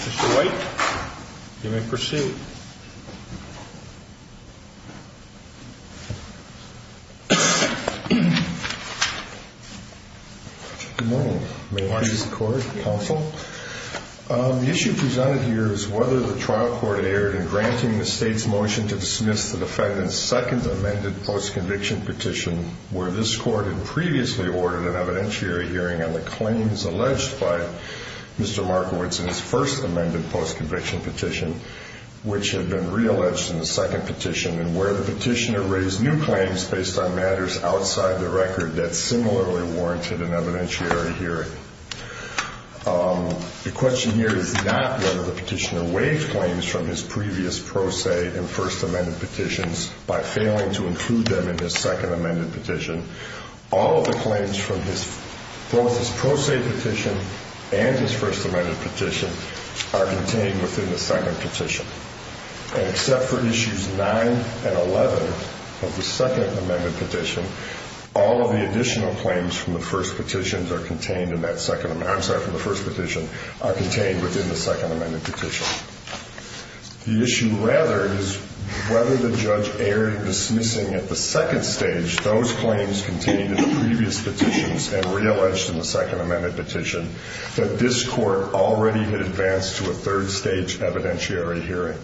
Mr. White, you may proceed. The issue presented here is whether the trial court erred in granting the state's motion to dismiss the defendant's second amended post-conviction petition where this court had previously ordered an evidentiary hearing on the claims alleged by Mr. Markiewicz in his first amended post-conviction petition. The question here is not whether the petitioner waived claims from his previous pro se and first amended petitions by failing to include them in his second amended petition. All of the claims from both his pro se petition and his first amended petition are contained within the second petition. And except for issues 9 and 11 of the second amended petition, all of the additional claims from the first petition are contained within the second amended petition. The issue rather is whether the judge erred in dismissing at the second stage those claims contained in the previous petitions and re-alleged in the second amended petition that this court already had advanced to a third stage evidentiary hearing.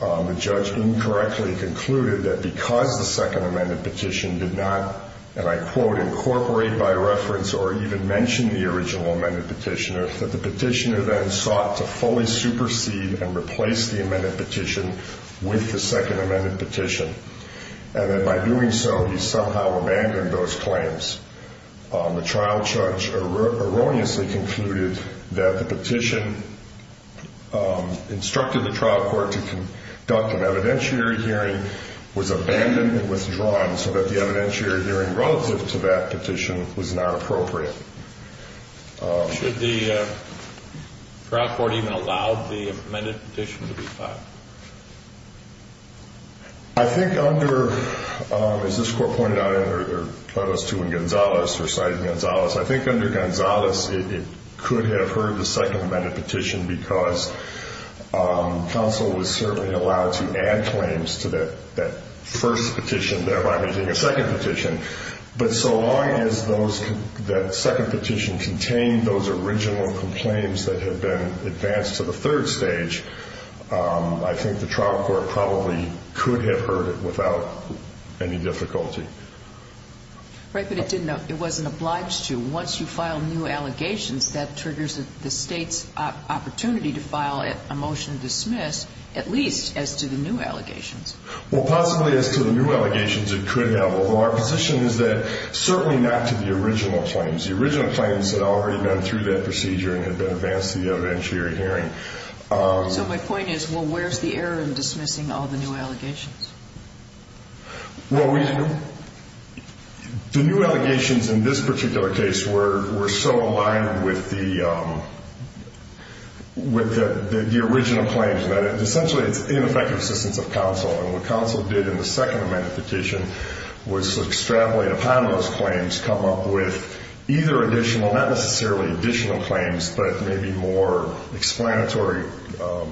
The judge incorrectly concluded that because the second amended petition did not, and I quote, incorporate by reference or even mention the original amended petitioner, that the petitioner then sought to fully supersede and replace the amended petition with the second amended petition. And that by doing so he somehow abandoned those claims. The trial judge erroneously concluded that the petition instructed the trial court to conduct an evidentiary hearing was abandoned and withdrawn so that the evidentiary hearing relative to that petition was not appropriate. Should the trial court even allow the amended petition to be filed? I think under, as this court pointed out in their plebis two in Gonzales, reciting Gonzales, I think under Gonzales it could have heard the second amended petition because counsel was certainly allowed to add claims to that first petition thereby making a second petition. But so long as those, that second petition contained those original complaints that had been advanced to the third stage, I think the trial court probably could have heard it without any difficulty. Right, but it didn't, it wasn't obliged to. Once you file new allegations, that triggers the state's opportunity to file a motion to dismiss, at least as to the new allegations. Well possibly as to the new allegations it could have, although our position is that certainly not to the original claims. The original claims had already been through that procedure and had been advanced to the evidentiary hearing. So my point is, well where's the error in dismissing all the new allegations? Well we, the new allegations in this particular case were so aligned with the original claims that essentially it's ineffective assistance of counsel. And what counsel did in the second amended petition was extrapolate upon those claims, come up with either additional, not necessarily additional claims, but maybe more explanatory, well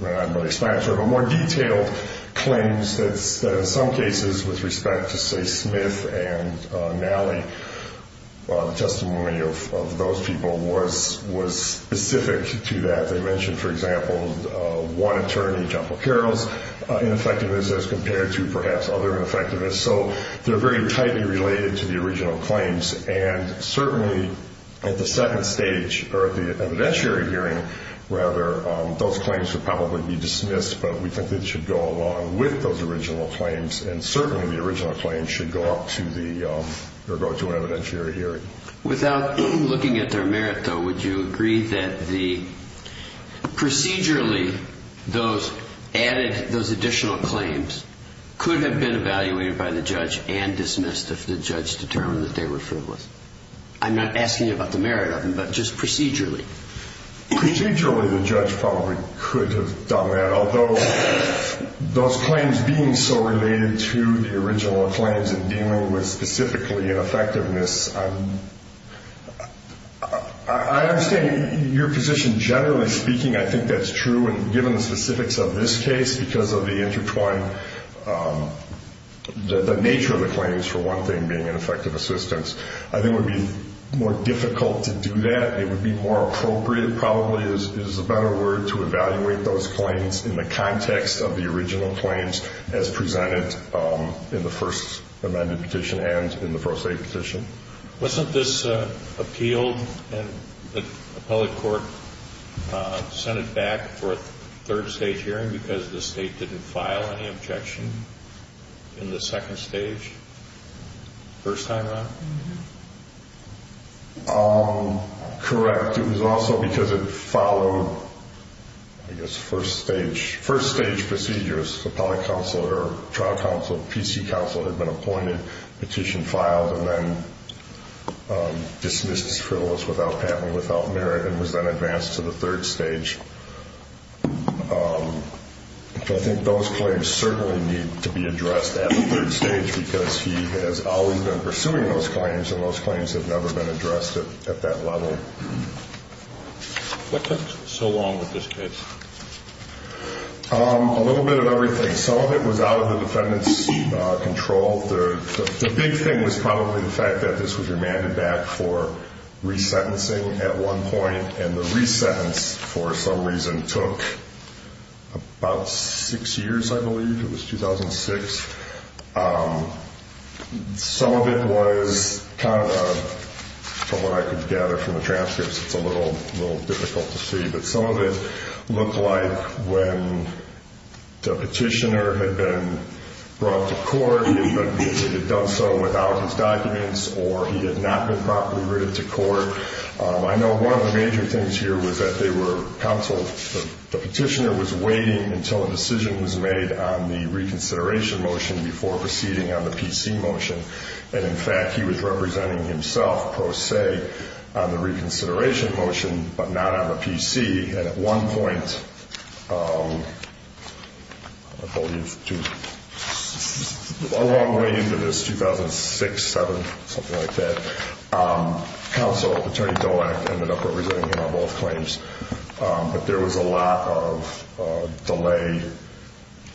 not explanatory but more detailed claims that in some cases with respect to say Smith and Nally, the testimony of those people was specific to that. They mentioned for example one attorney, Joppa Carroll's ineffectiveness as compared to perhaps other ineffectiveness. So they're very tightly related to the original claims. And certainly at the second stage, or at the evidentiary hearing rather, those claims would probably be dismissed, but we think they should go along with those original claims. And certainly the original claims should go up to the, or go to an evidentiary hearing. Without looking at their merit though, would you agree that the, procedurally those added, those additional claims could have been evaluated by the judge and dismissed if the judge determined that they were frivolous? I'm not asking about the merit of them, but just procedurally. Procedurally the judge probably could have done that. Although those claims being so related to the original claims and dealing with specifically ineffectiveness, I understand your position generally speaking, I think that's true. Given the specifics of this case, because of the intertwined, the nature of the claims for one thing being an effective assistance, I think it would be more difficult to do that. It would be more appropriate probably is a better word to evaluate those claims in the context of the original claims as presented in the first amended petition and in the pro se petition. Wasn't this appealed and the appellate court sent it back for a third stage hearing because the state didn't file any objection in the second stage? First time around? Correct. It was also because it followed, I guess, first stage procedures. Appellate counsel or trial counsel, PC counsel had been appointed, petition filed, and then dismissed as frivolous without patent without merit and was then advanced to the third stage. I think those claims certainly need to be addressed at the third stage because he has always been pursuing those claims and those claims have never been addressed at that level. What took so long with this case? A little bit of everything. Some of it was out of the defendant's control. The big thing was probably the fact that this was remanded back for resentencing at one point and the resentence for some reason took about six years. I believe it was 2006. Some of it was, from what I could gather from the transcripts, it's a little difficult to see, but some of it looked like when the petitioner had been brought to court, he had done so without his documents or he had not been properly written to court. I know one of the major things here was that the petitioner was waiting until a decision was made on the reconsideration motion before proceeding on the PC motion. In fact, he was representing himself, pro se, on the reconsideration motion but not on the PC. At one point, I believe, a long way into this, 2006, 2007, something like that, counsel, Attorney Dolak, ended up representing him on both claims. But there was a lot of delay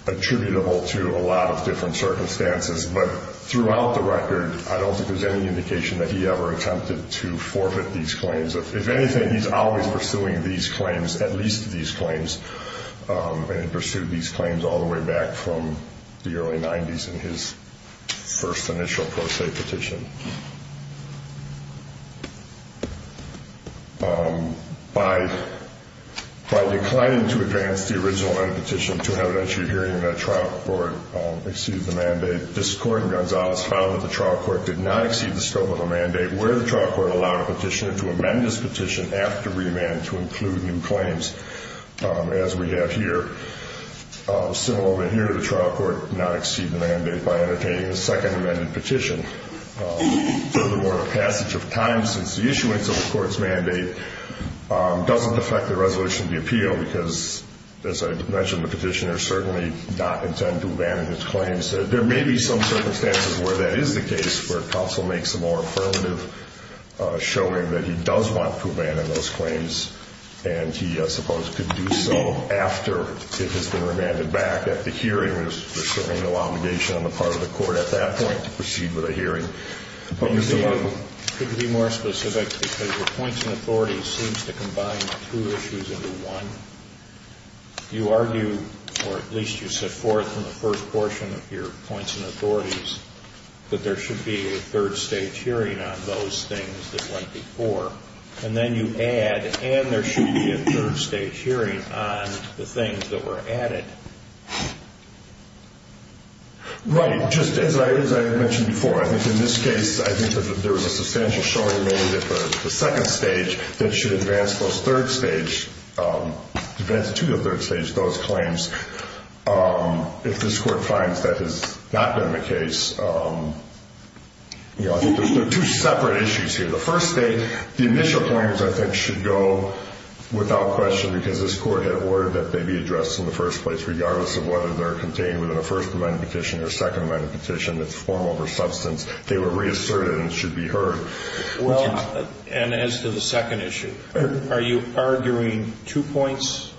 attributable to a lot of different circumstances. But throughout the record, I don't think there's any indication that he ever attempted to forfeit these claims. If anything, he's always pursuing these claims, at least these claims, and he pursued these claims all the way back from the early 90s in his first initial pro se petition. By declining to advance the original petition to an evidentiary hearing, the trial court exceeded the mandate. This court in Gonzalez found that the trial court did not exceed the scope of the mandate where the trial court allowed a petitioner to amend his petition after remand to include new claims, as we have here. Similarly here, the trial court did not exceed the mandate by entertaining the second amended petition. Furthermore, the passage of time since the issuance of the court's mandate doesn't affect the resolution of the appeal because, as I mentioned, the petitioner certainly did not intend to abandon his claims. There may be some circumstances where that is the case, where counsel makes a more affirmative showing that he does want to abandon those claims, and he, I suppose, could do so after it has been remanded back at the hearing. There's certainly no obligation on the part of the court at that point to proceed with a hearing. Could you be more specific? Because your points and authorities seems to combine two issues into one. You argue, or at least you set forth in the first portion of your points and authorities, that there should be a third stage hearing on those things that went before. And then you add, and there should be a third stage hearing on the things that were added. Right. Just as I mentioned before, I think in this case, I think that there was a substantial showing made at the second stage that should advance to the third stage those claims. If this court finds that has not been the case, you know, I think there's two separate issues here. The first state, the initial claims, I think, should go without question, because this court had ordered that they be addressed in the first place, regardless of whether they're contained within a first amendment petition or second amendment petition that's formal or substance. They were reasserted and should be heard. Well, and as to the second issue, are you arguing two points?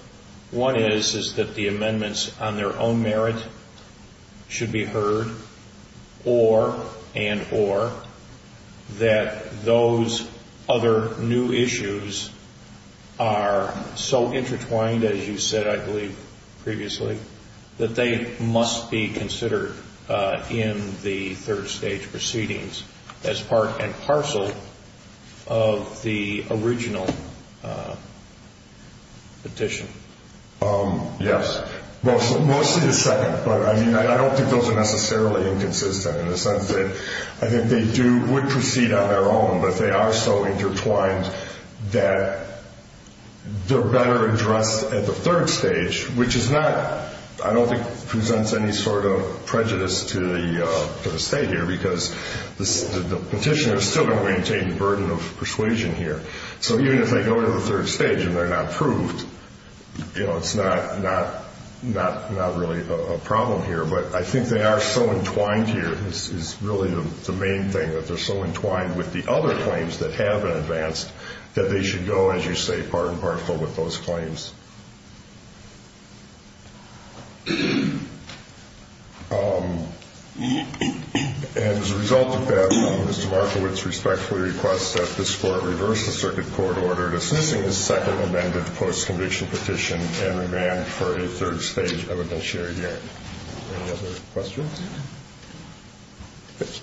One is, is that the amendments on their own merit should be heard, or, and, or, that those other new issues are so intertwined, as you said, I believe, previously, that they must be considered in the third stage proceedings as part and parcel of the original petition? Yes. Mostly the second, but, I mean, I don't think those are necessarily inconsistent, in the sense that I think they do, would proceed on their own, but they are so intertwined that they're better addressed at the third stage, which is not, I don't think, presents any sort of prejudice to the state here, because the petitioners still don't maintain the burden of persuasion here. So even if they go to the third stage and they're not proved, you know, it's not, not, not really a problem here, but I think they are so entwined here is really the main thing, that they're so entwined with the other claims that have been advanced, that they should go, as you say, part and parcel with those claims. And as a result of that, Mr. Markowitz respectfully requests that this Court reverse the circuit court order to dismissing the second amended post-conviction petition and remand for a third stage evidentiary hearing. Any other questions? Thank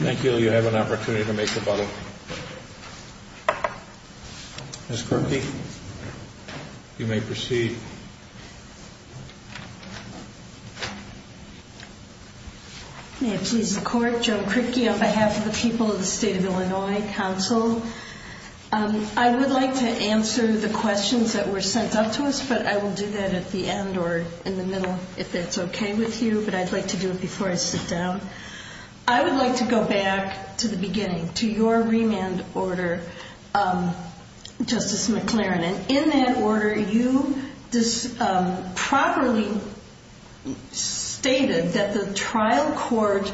you. Thank you. You have an opportunity to make a button. Ms. Corky, you may proceed. May it please the Court, Joan Corky on behalf of the people of the State of Illinois Council. I would like to answer the questions that were sent up to us, but I will do that at the end or in the middle if that's okay with you, but I'd like to do it before I sit down. I would like to go back to the beginning, to your remand order, Justice McLaren, and in that order you properly stated that the trial court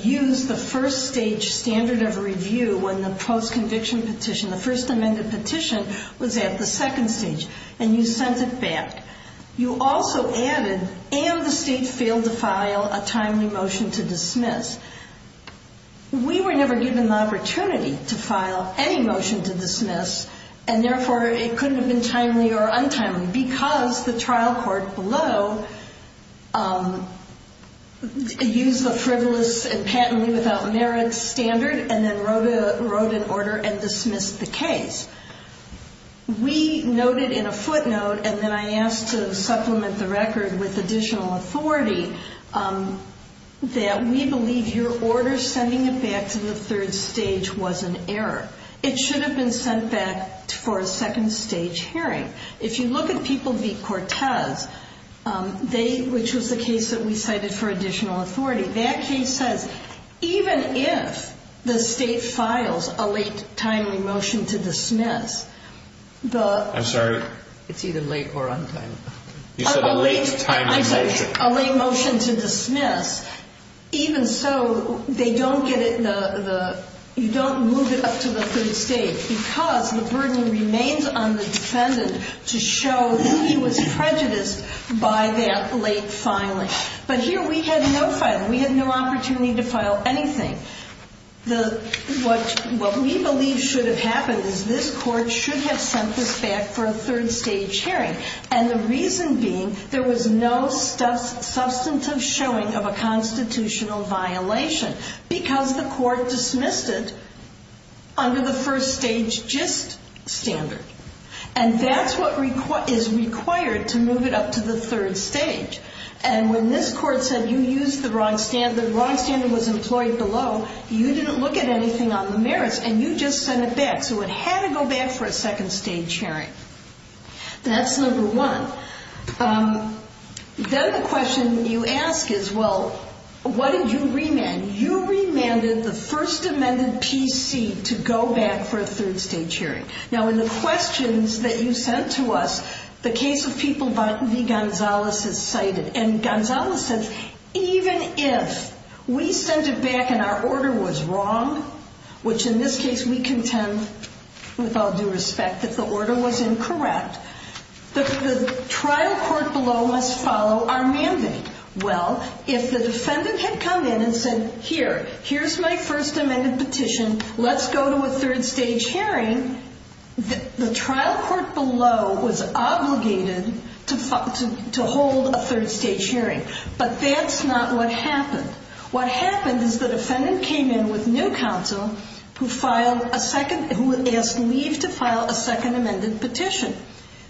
used the first stage standard of review when the post-conviction petition, the first amended petition, was at the second stage, and you sent it back. You also added, and the State failed to file, a timely motion to dismiss. We were never given the opportunity to file any motion to dismiss, and therefore it couldn't have been timely or untimely because the trial court below used the frivolous and patently without merit standard and then wrote an order and dismissed the case. We noted in a footnote, and then I asked to supplement the record with additional authority, that we believe your order sending it back to the third stage was an error. It should have been sent back for a second stage hearing. If you look at people v. Cortez, which was the case that we cited for additional authority, that case says even if the State files a late, timely motion to dismiss, I'm sorry? It's either late or untimely. You said a late, timely motion. I said a late motion to dismiss, even so, you don't move it up to the third stage because the burden remains on the defendant to show he was prejudiced by that late filing. But here we had no filing. We had no opportunity to file anything. What we believe should have happened is this court should have sent this back for a third stage hearing, and the reason being there was no substantive showing of a constitutional violation because the court dismissed it under the first stage gist standard. And that's what is required to move it up to the third stage. And when this court said you used the wrong standard, the wrong standard was employed below, you didn't look at anything on the merits, and you just sent it back. So it had to go back for a second stage hearing. That's number one. Then the question you ask is, well, what did you remand? You remanded the First Amendment PC to go back for a third stage hearing. Now, in the questions that you sent to us, the case of People v. Gonzales is cited, and Gonzales says, even if we sent it back and our order was wrong, which in this case we contend with all due respect that the order was incorrect, the trial court below must follow our mandate. Well, if the defendant had come in and said, here, here's my First Amendment petition, let's go to a third stage hearing, the trial court below was obligated to hold a third stage hearing. But that's not what happened. What happened is the defendant came in with new counsel who filed a second, who asked leave to file a second amended petition.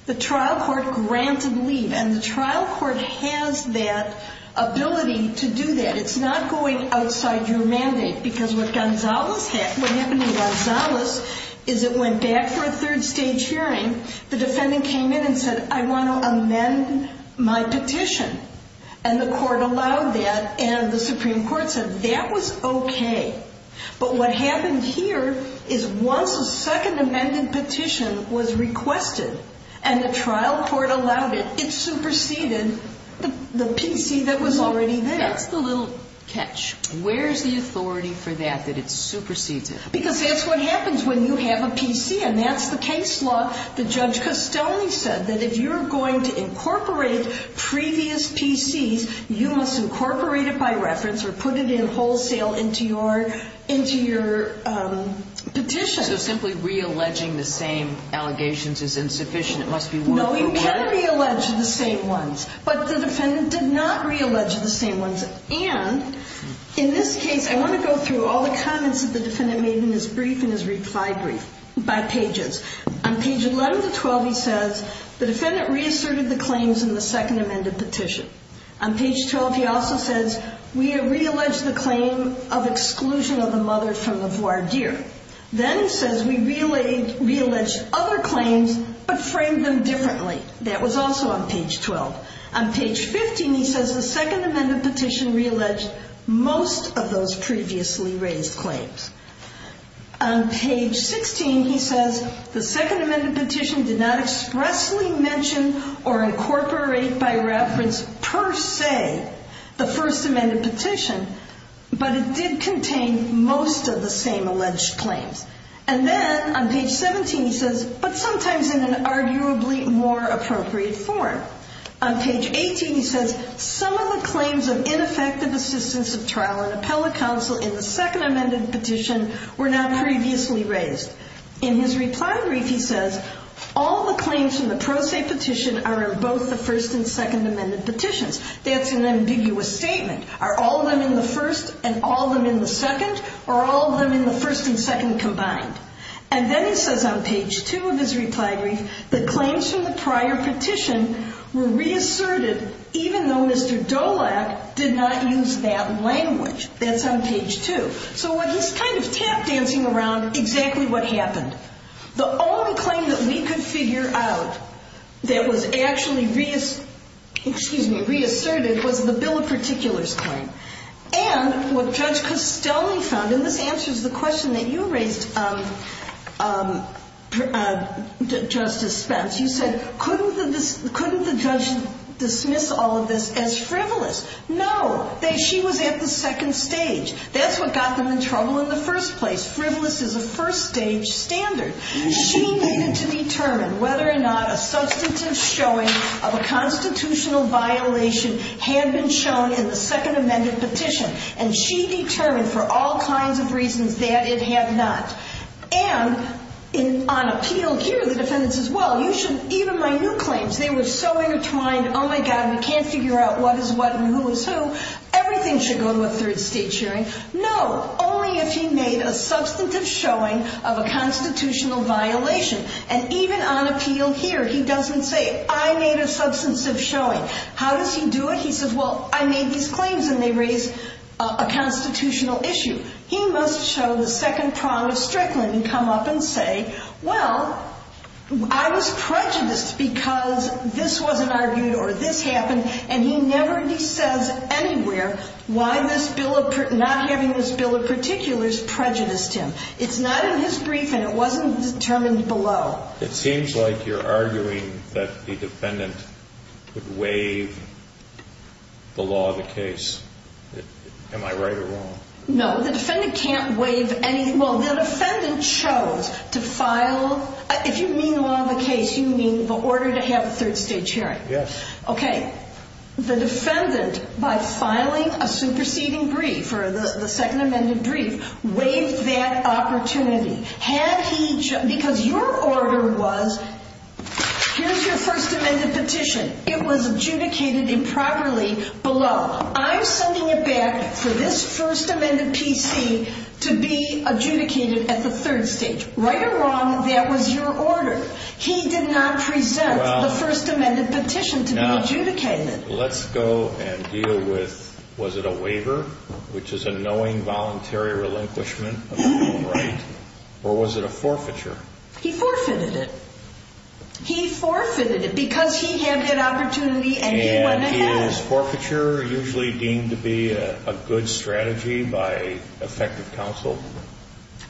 The trial court granted leave, and the trial court has that ability to do that. It's not going outside your mandate, because what Gonzales had, what happened to Gonzales is it went back for a third stage hearing. The defendant came in and said, I want to amend my petition. And the court allowed that, and the Supreme Court said that was okay. But what happened here is once a second amended petition was requested, and the trial court allowed it, it superseded the PC that was already there. That's the little catch. Where's the authority for that, that it supersedes it? Because that's what happens when you have a PC, and that's the case law. The judge customily said that if you're going to incorporate previous PCs, you must incorporate it by reference or put it in wholesale into your petition. So simply re-alleging the same allegations is insufficient. It must be one from one. No, you can re-allege the same ones. But the defendant did not re-allege the same ones. And in this case, I want to go through all the comments that the defendant made in his brief and his reply brief by pages. On page 11 to 12, he says, The defendant reasserted the claims in the second amended petition. On page 12, he also says, We have re-alleged the claim of exclusion of the mother from the voir dire. Then he says, We re-alleged other claims but framed them differently. That was also on page 12. On page 15, he says, The second amended petition re-alleged most of those previously raised claims. On page 16, he says, The second amended petition did not expressly mention or incorporate by reference per se the first amended petition, but it did contain most of the same alleged claims. And then on page 17, he says, But sometimes in an arguably more appropriate form. On page 18, he says, Some of the claims of ineffective assistance of trial and appellate counsel in the second amended petition were not previously raised. In his reply brief, he says, All the claims from the pro se petition are in both the first and second amended petitions. That's an ambiguous statement. Are all of them in the first and all of them in the second? Or are all of them in the first and second combined? And then he says on page 2 of his reply brief, The claims from the prior petition were reasserted even though Mr. Dolak did not use that language. That's on page 2. So he's kind of tap dancing around exactly what happened. The only claim that we could figure out that was actually reasserted was the bill of particulars claim. And what Judge Costellni found, and this answers the question that you raised, Justice Spence, you said, couldn't the judge dismiss all of this as frivolous? No. She was at the second stage. That's what got them in trouble in the first place. Frivolous is a first stage standard. She needed to determine whether or not a substantive showing of a constitutional violation had been shown in the second amended petition. And she determined for all kinds of reasons that it had not. And on appeal here, the defendant says, Well, even my new claims, they were so intertwined, Oh, my God, we can't figure out what is what and who is who. Everything should go to a third stage hearing. No. Only if he made a substantive showing of a constitutional violation. And even on appeal here, he doesn't say, I made a substantive showing. How does he do it? He says, Well, I made these claims, and they raise a constitutional issue. He must show the second prong of Strickland and come up and say, Well, I was prejudiced because this wasn't argued or this happened. And he never says anywhere why not having this bill of particulars prejudiced him. It's not in his brief, and it wasn't determined below. It seems like you're arguing that the defendant would waive the law of the case. Am I right or wrong? No. The defendant can't waive anything. Well, the defendant chose to file. If you mean law of the case, you mean the order to have a third stage hearing. Yes. Okay. The defendant, by filing a superseding brief or the second amended brief, waived that opportunity. Because your order was, here's your first amended petition. It was adjudicated improperly below. Well, I'm sending it back for this first amended PC to be adjudicated at the third stage. Right or wrong, that was your order. He did not present the first amended petition to be adjudicated. Let's go and deal with, was it a waiver, which is a knowing voluntary relinquishment of the right, or was it a forfeiture? He forfeited it. He forfeited it because he had that opportunity and he went ahead. Is forfeiture usually deemed to be a good strategy by effective counsel?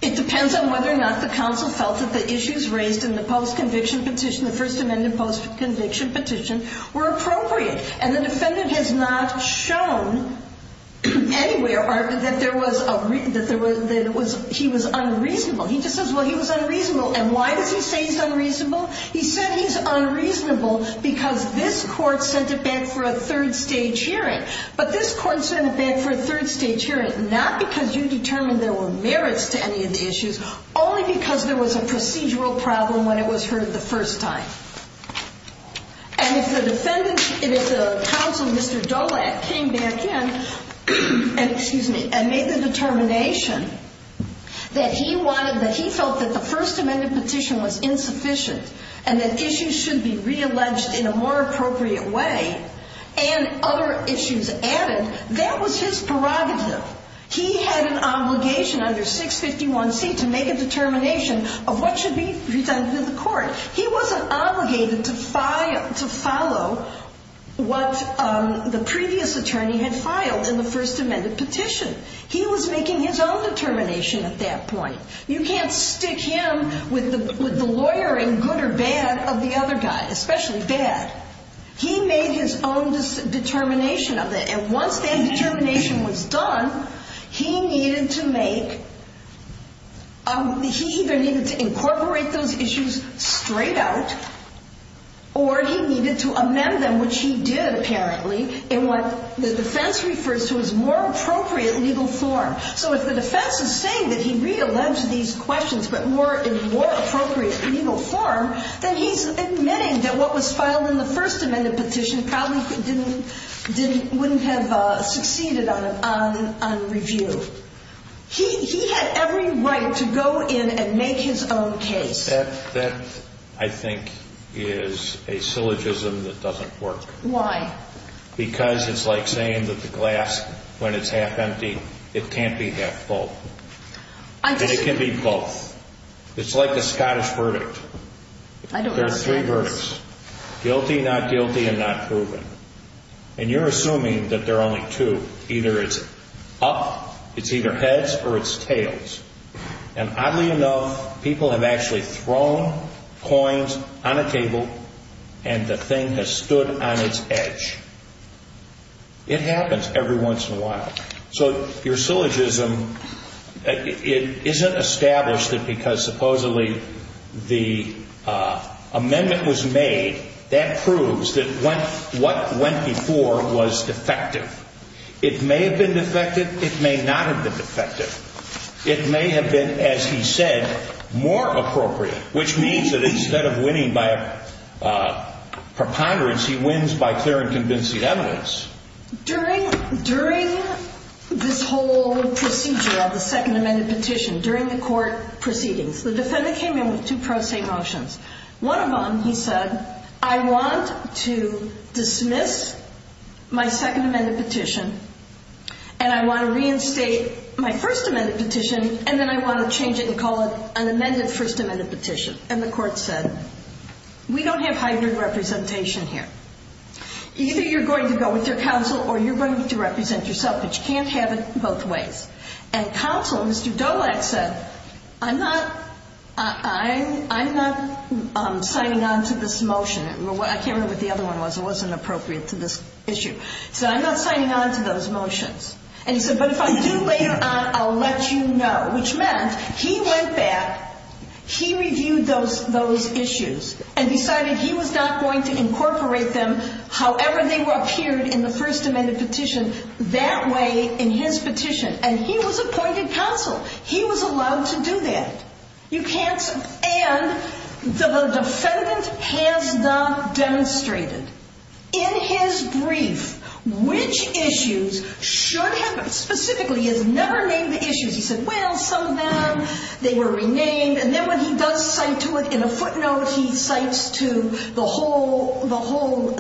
It depends on whether or not the counsel felt that the issues raised in the post-conviction petition, the first amended post-conviction petition, were appropriate. And the defendant has not shown anywhere that he was unreasonable. He just says, well, he was unreasonable. And why does he say he's unreasonable? He said he's unreasonable because this court sent it back for a third stage hearing. But this court sent it back for a third stage hearing, not because you determined there were merits to any of the issues, only because there was a procedural problem when it was heard the first time. And if the counsel, Mr. Dolak, came back in and made the determination that he wanted, felt that the first amended petition was insufficient and that issues should be re-alleged in a more appropriate way, and other issues added, that was his prerogative. He had an obligation under 651C to make a determination of what should be presented to the court. He wasn't obligated to follow what the previous attorney had filed in the first amended petition. He was making his own determination at that point. You can't stick him with the lawyering, good or bad, of the other guy, especially bad. He made his own determination of it. And once that determination was done, he needed to make ‑‑ he either needed to incorporate those issues straight out or he needed to amend them, which he did, apparently, in what the defense refers to as more appropriate legal form. So if the defense is saying that he re-alleged these questions, but more in more appropriate legal form, then he's admitting that what was filed in the first amended petition probably wouldn't have succeeded on review. He had every right to go in and make his own case. That, I think, is a syllogism that doesn't work. Why? Because it's like saying that the glass, when it's half empty, it can't be half full. And it can be both. It's like a Scottish verdict. I don't understand this. There are three verdicts, guilty, not guilty, and not proven. And you're assuming that there are only two. Either it's up, it's either heads or it's tails. And oddly enough, people have actually thrown coins on a table and the thing has stood on its edge. It happens every once in a while. So your syllogism, it isn't established that because supposedly the amendment was made, that proves that what went before was defective. It may have been defective. It may not have been defective. It may have been, as he said, more appropriate, which means that instead of winning by preponderance, he wins by clear and convincing evidence. During this whole procedure of the second amended petition, during the court proceedings, the defendant came in with two pro se motions. One of them, he said, I want to dismiss my second amended petition and I want to reinstate my first amended petition and then I want to change it and call it an amended first amended petition. And the court said, we don't have hybrid representation here. Either you're going to go with your counsel or you're going to represent yourself, but you can't have it both ways. And counsel, Mr. Dolak said, I'm not signing on to this motion. I can't remember what the other one was. It wasn't appropriate to this issue. He said, I'm not signing on to those motions. And he said, but if I do later on, I'll let you know. Which meant he went back, he reviewed those issues and decided he was not going to incorporate them however they appeared in the first amended petition that way in his petition. And he was appointed counsel. He was allowed to do that. And the defendant has not demonstrated. In his brief, which issues should have, specifically, he has never named the issues. He said, well, some of them, they were renamed. And then when he does cite to it in a footnote, he cites to the whole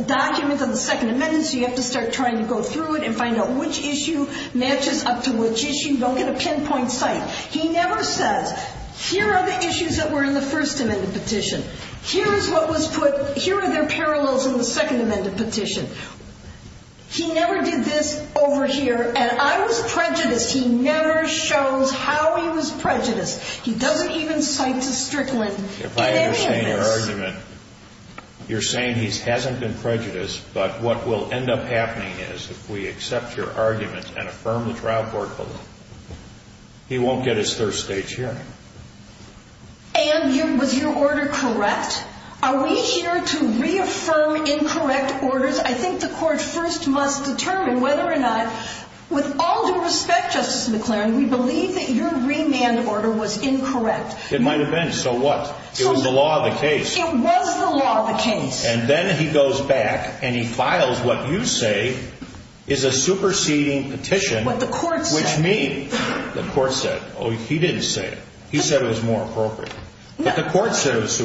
document of the second amendment. So you have to start trying to go through it and find out which issue matches up to which issue. Don't get a pinpoint cite. He never says, here are the issues that were in the first amended petition. Here is what was put, here are their parallels in the second amended petition. He never did this over here. And I was prejudiced. He never shows how he was prejudiced. He doesn't even cite to Strickland. If I understand your argument, you're saying he hasn't been prejudiced, but what will end up happening is if we accept your argument and affirm the trial court vote, he won't get his third stage hearing. And was your order correct? Are we here to reaffirm incorrect orders? I think the court first must determine whether or not, with all due respect, Justice McLaren, we believe that your remand order was incorrect. It might have been. So what? It was the law of the case. It was the law of the case. And then he goes back and he files what you say is a superseding petition. What the court said. Which means the court said, oh, he didn't say it. He said it was more appropriate. But the court said it was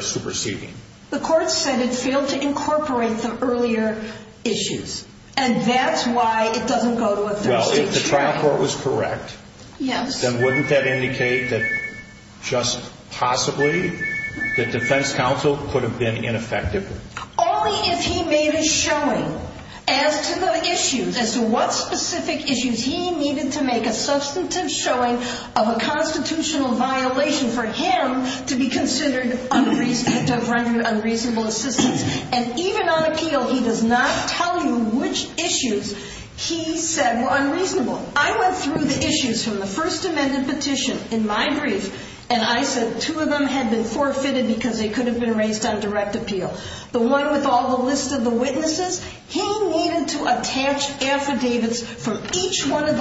superseding. The court said it failed to incorporate the earlier issues, and that's why it doesn't go to a third stage hearing. Well, if the trial court was correct, then wouldn't that indicate that just possibly the defense counsel could have been ineffective? Only if he made a showing as to the issues, as to what specific issues he needed to make a substantive showing of a constitutional violation for him to be considered unreasonable assistance. And even on appeal, he does not tell you which issues he said were unreasonable. I went through the issues from the First Amendment petition in my brief, and I said two of them had been forfeited because they could have been raised on direct appeal. The one with all the lists of the witnesses, he needed to attach affidavits from each one of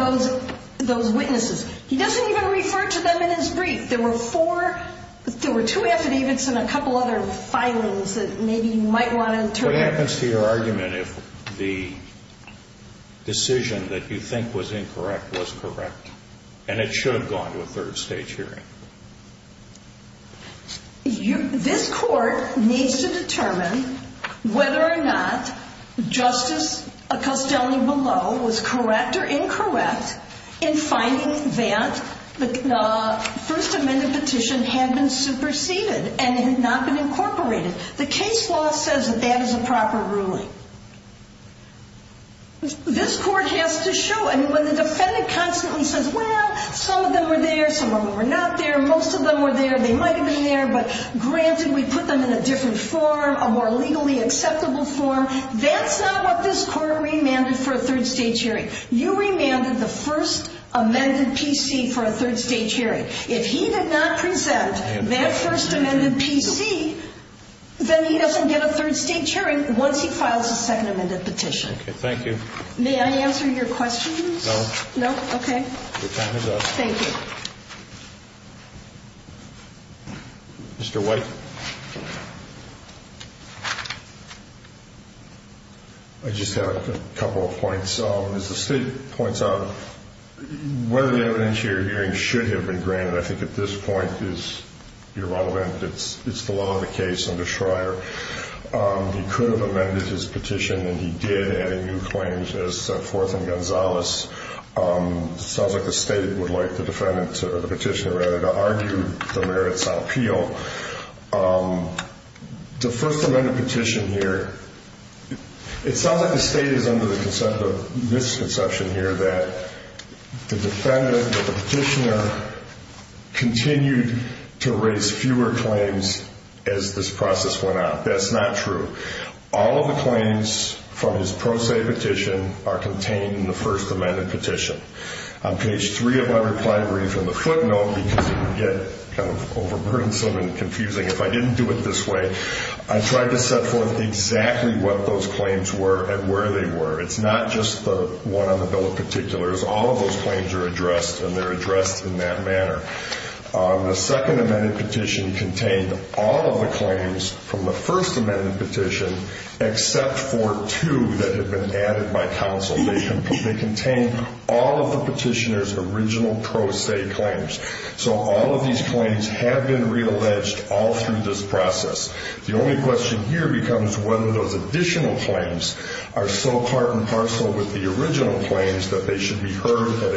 those witnesses. He doesn't even refer to them in his brief. There were two affidavits and a couple other filings that maybe you might want to interpret. What happens to your argument if the decision that you think was incorrect was correct, and it should have gone to a third stage hearing? This court needs to determine whether or not Justice Acostione-Below was correct or incorrect in finding that the First Amendment petition had been superseded and had not been incorporated. The case law says that that is a proper ruling. This court has to show, and when the defendant constantly says, well, some of them were there, some of them were not there, most of them were there, they might have been there, but granted we put them in a different form, a more legally acceptable form. That's not what this court remanded for a third stage hearing. You remanded the First Amendment PC for a third stage hearing. If he did not present that First Amendment PC, then he doesn't get a third stage hearing once he files a Second Amendment petition. Okay, thank you. May I answer your question, please? No. No? Okay. Good time to go. Thank you. Mr. White. I just have a couple of points. As the State points out, whether the evidence you're hearing should have been granted, I think at this point is irrelevant. It's the law of the case under Schreier. He could have amended his petition, and he did, adding new claims as set forth in Gonzales. It sounds like the State would like the petitioner to argue the merits appeal. The First Amendment petition here, it sounds like the State is under the misconception here that the petitioner continued to raise fewer claims as this process went out. That's not true. All of the claims from his pro se petition are contained in the First Amendment petition. On page 3 of my reply brief, in the footnote, because it would get kind of overburdensome and confusing if I didn't do it this way, I tried to set forth exactly what those claims were and where they were. It's not just the one on the bill in particular. It's all of those claims are addressed, and they're addressed in that manner. The Second Amendment petition contained all of the claims from the First Amendment petition except for two that have been added by counsel. They contain all of the petitioner's original pro se claims. So all of these claims have been realleged all through this process. The only question here becomes whether those additional claims are so part and parcel with the original claims that they should be heard at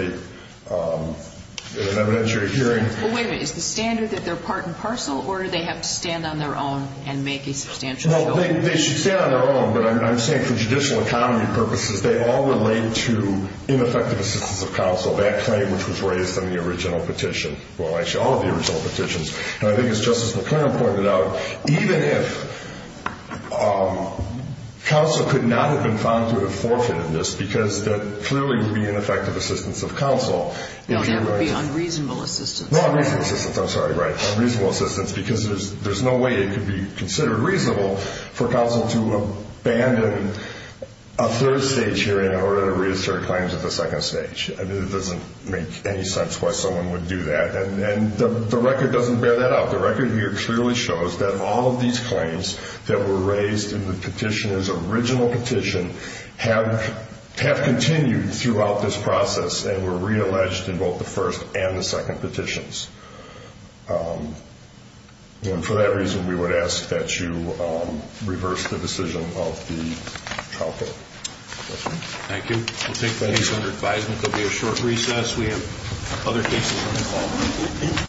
an evidentiary hearing. Wait a minute. Is the standard that they're part and parcel, or do they have to stand on their own and make a substantial appeal? They should stand on their own, but I'm saying for judicial economy purposes, they all relate to ineffective assistance of counsel, that claim which was raised in the original petition. Well, actually, all of the original petitions. I think as Justice McConnell pointed out, even if counsel could not have been found to have forfeited this because that clearly would be ineffective assistance of counsel. That would be unreasonable assistance. No, unreasonable assistance. I'm sorry. Right. Reasonable assistance because there's no way it could be considered reasonable for counsel to abandon a third stage hearing in order to reassert claims at the second stage. I mean, it doesn't make any sense why someone would do that. And the record doesn't bear that out. The record here clearly shows that all of these claims that were raised in the petitioner's original petition have continued throughout this process and were realleged in both the first and the second petitions. And for that reason, we would ask that you reverse the decision of the trial court. Thank you. We'll take the case under advisement. There will be a short recess. We have other cases on the call.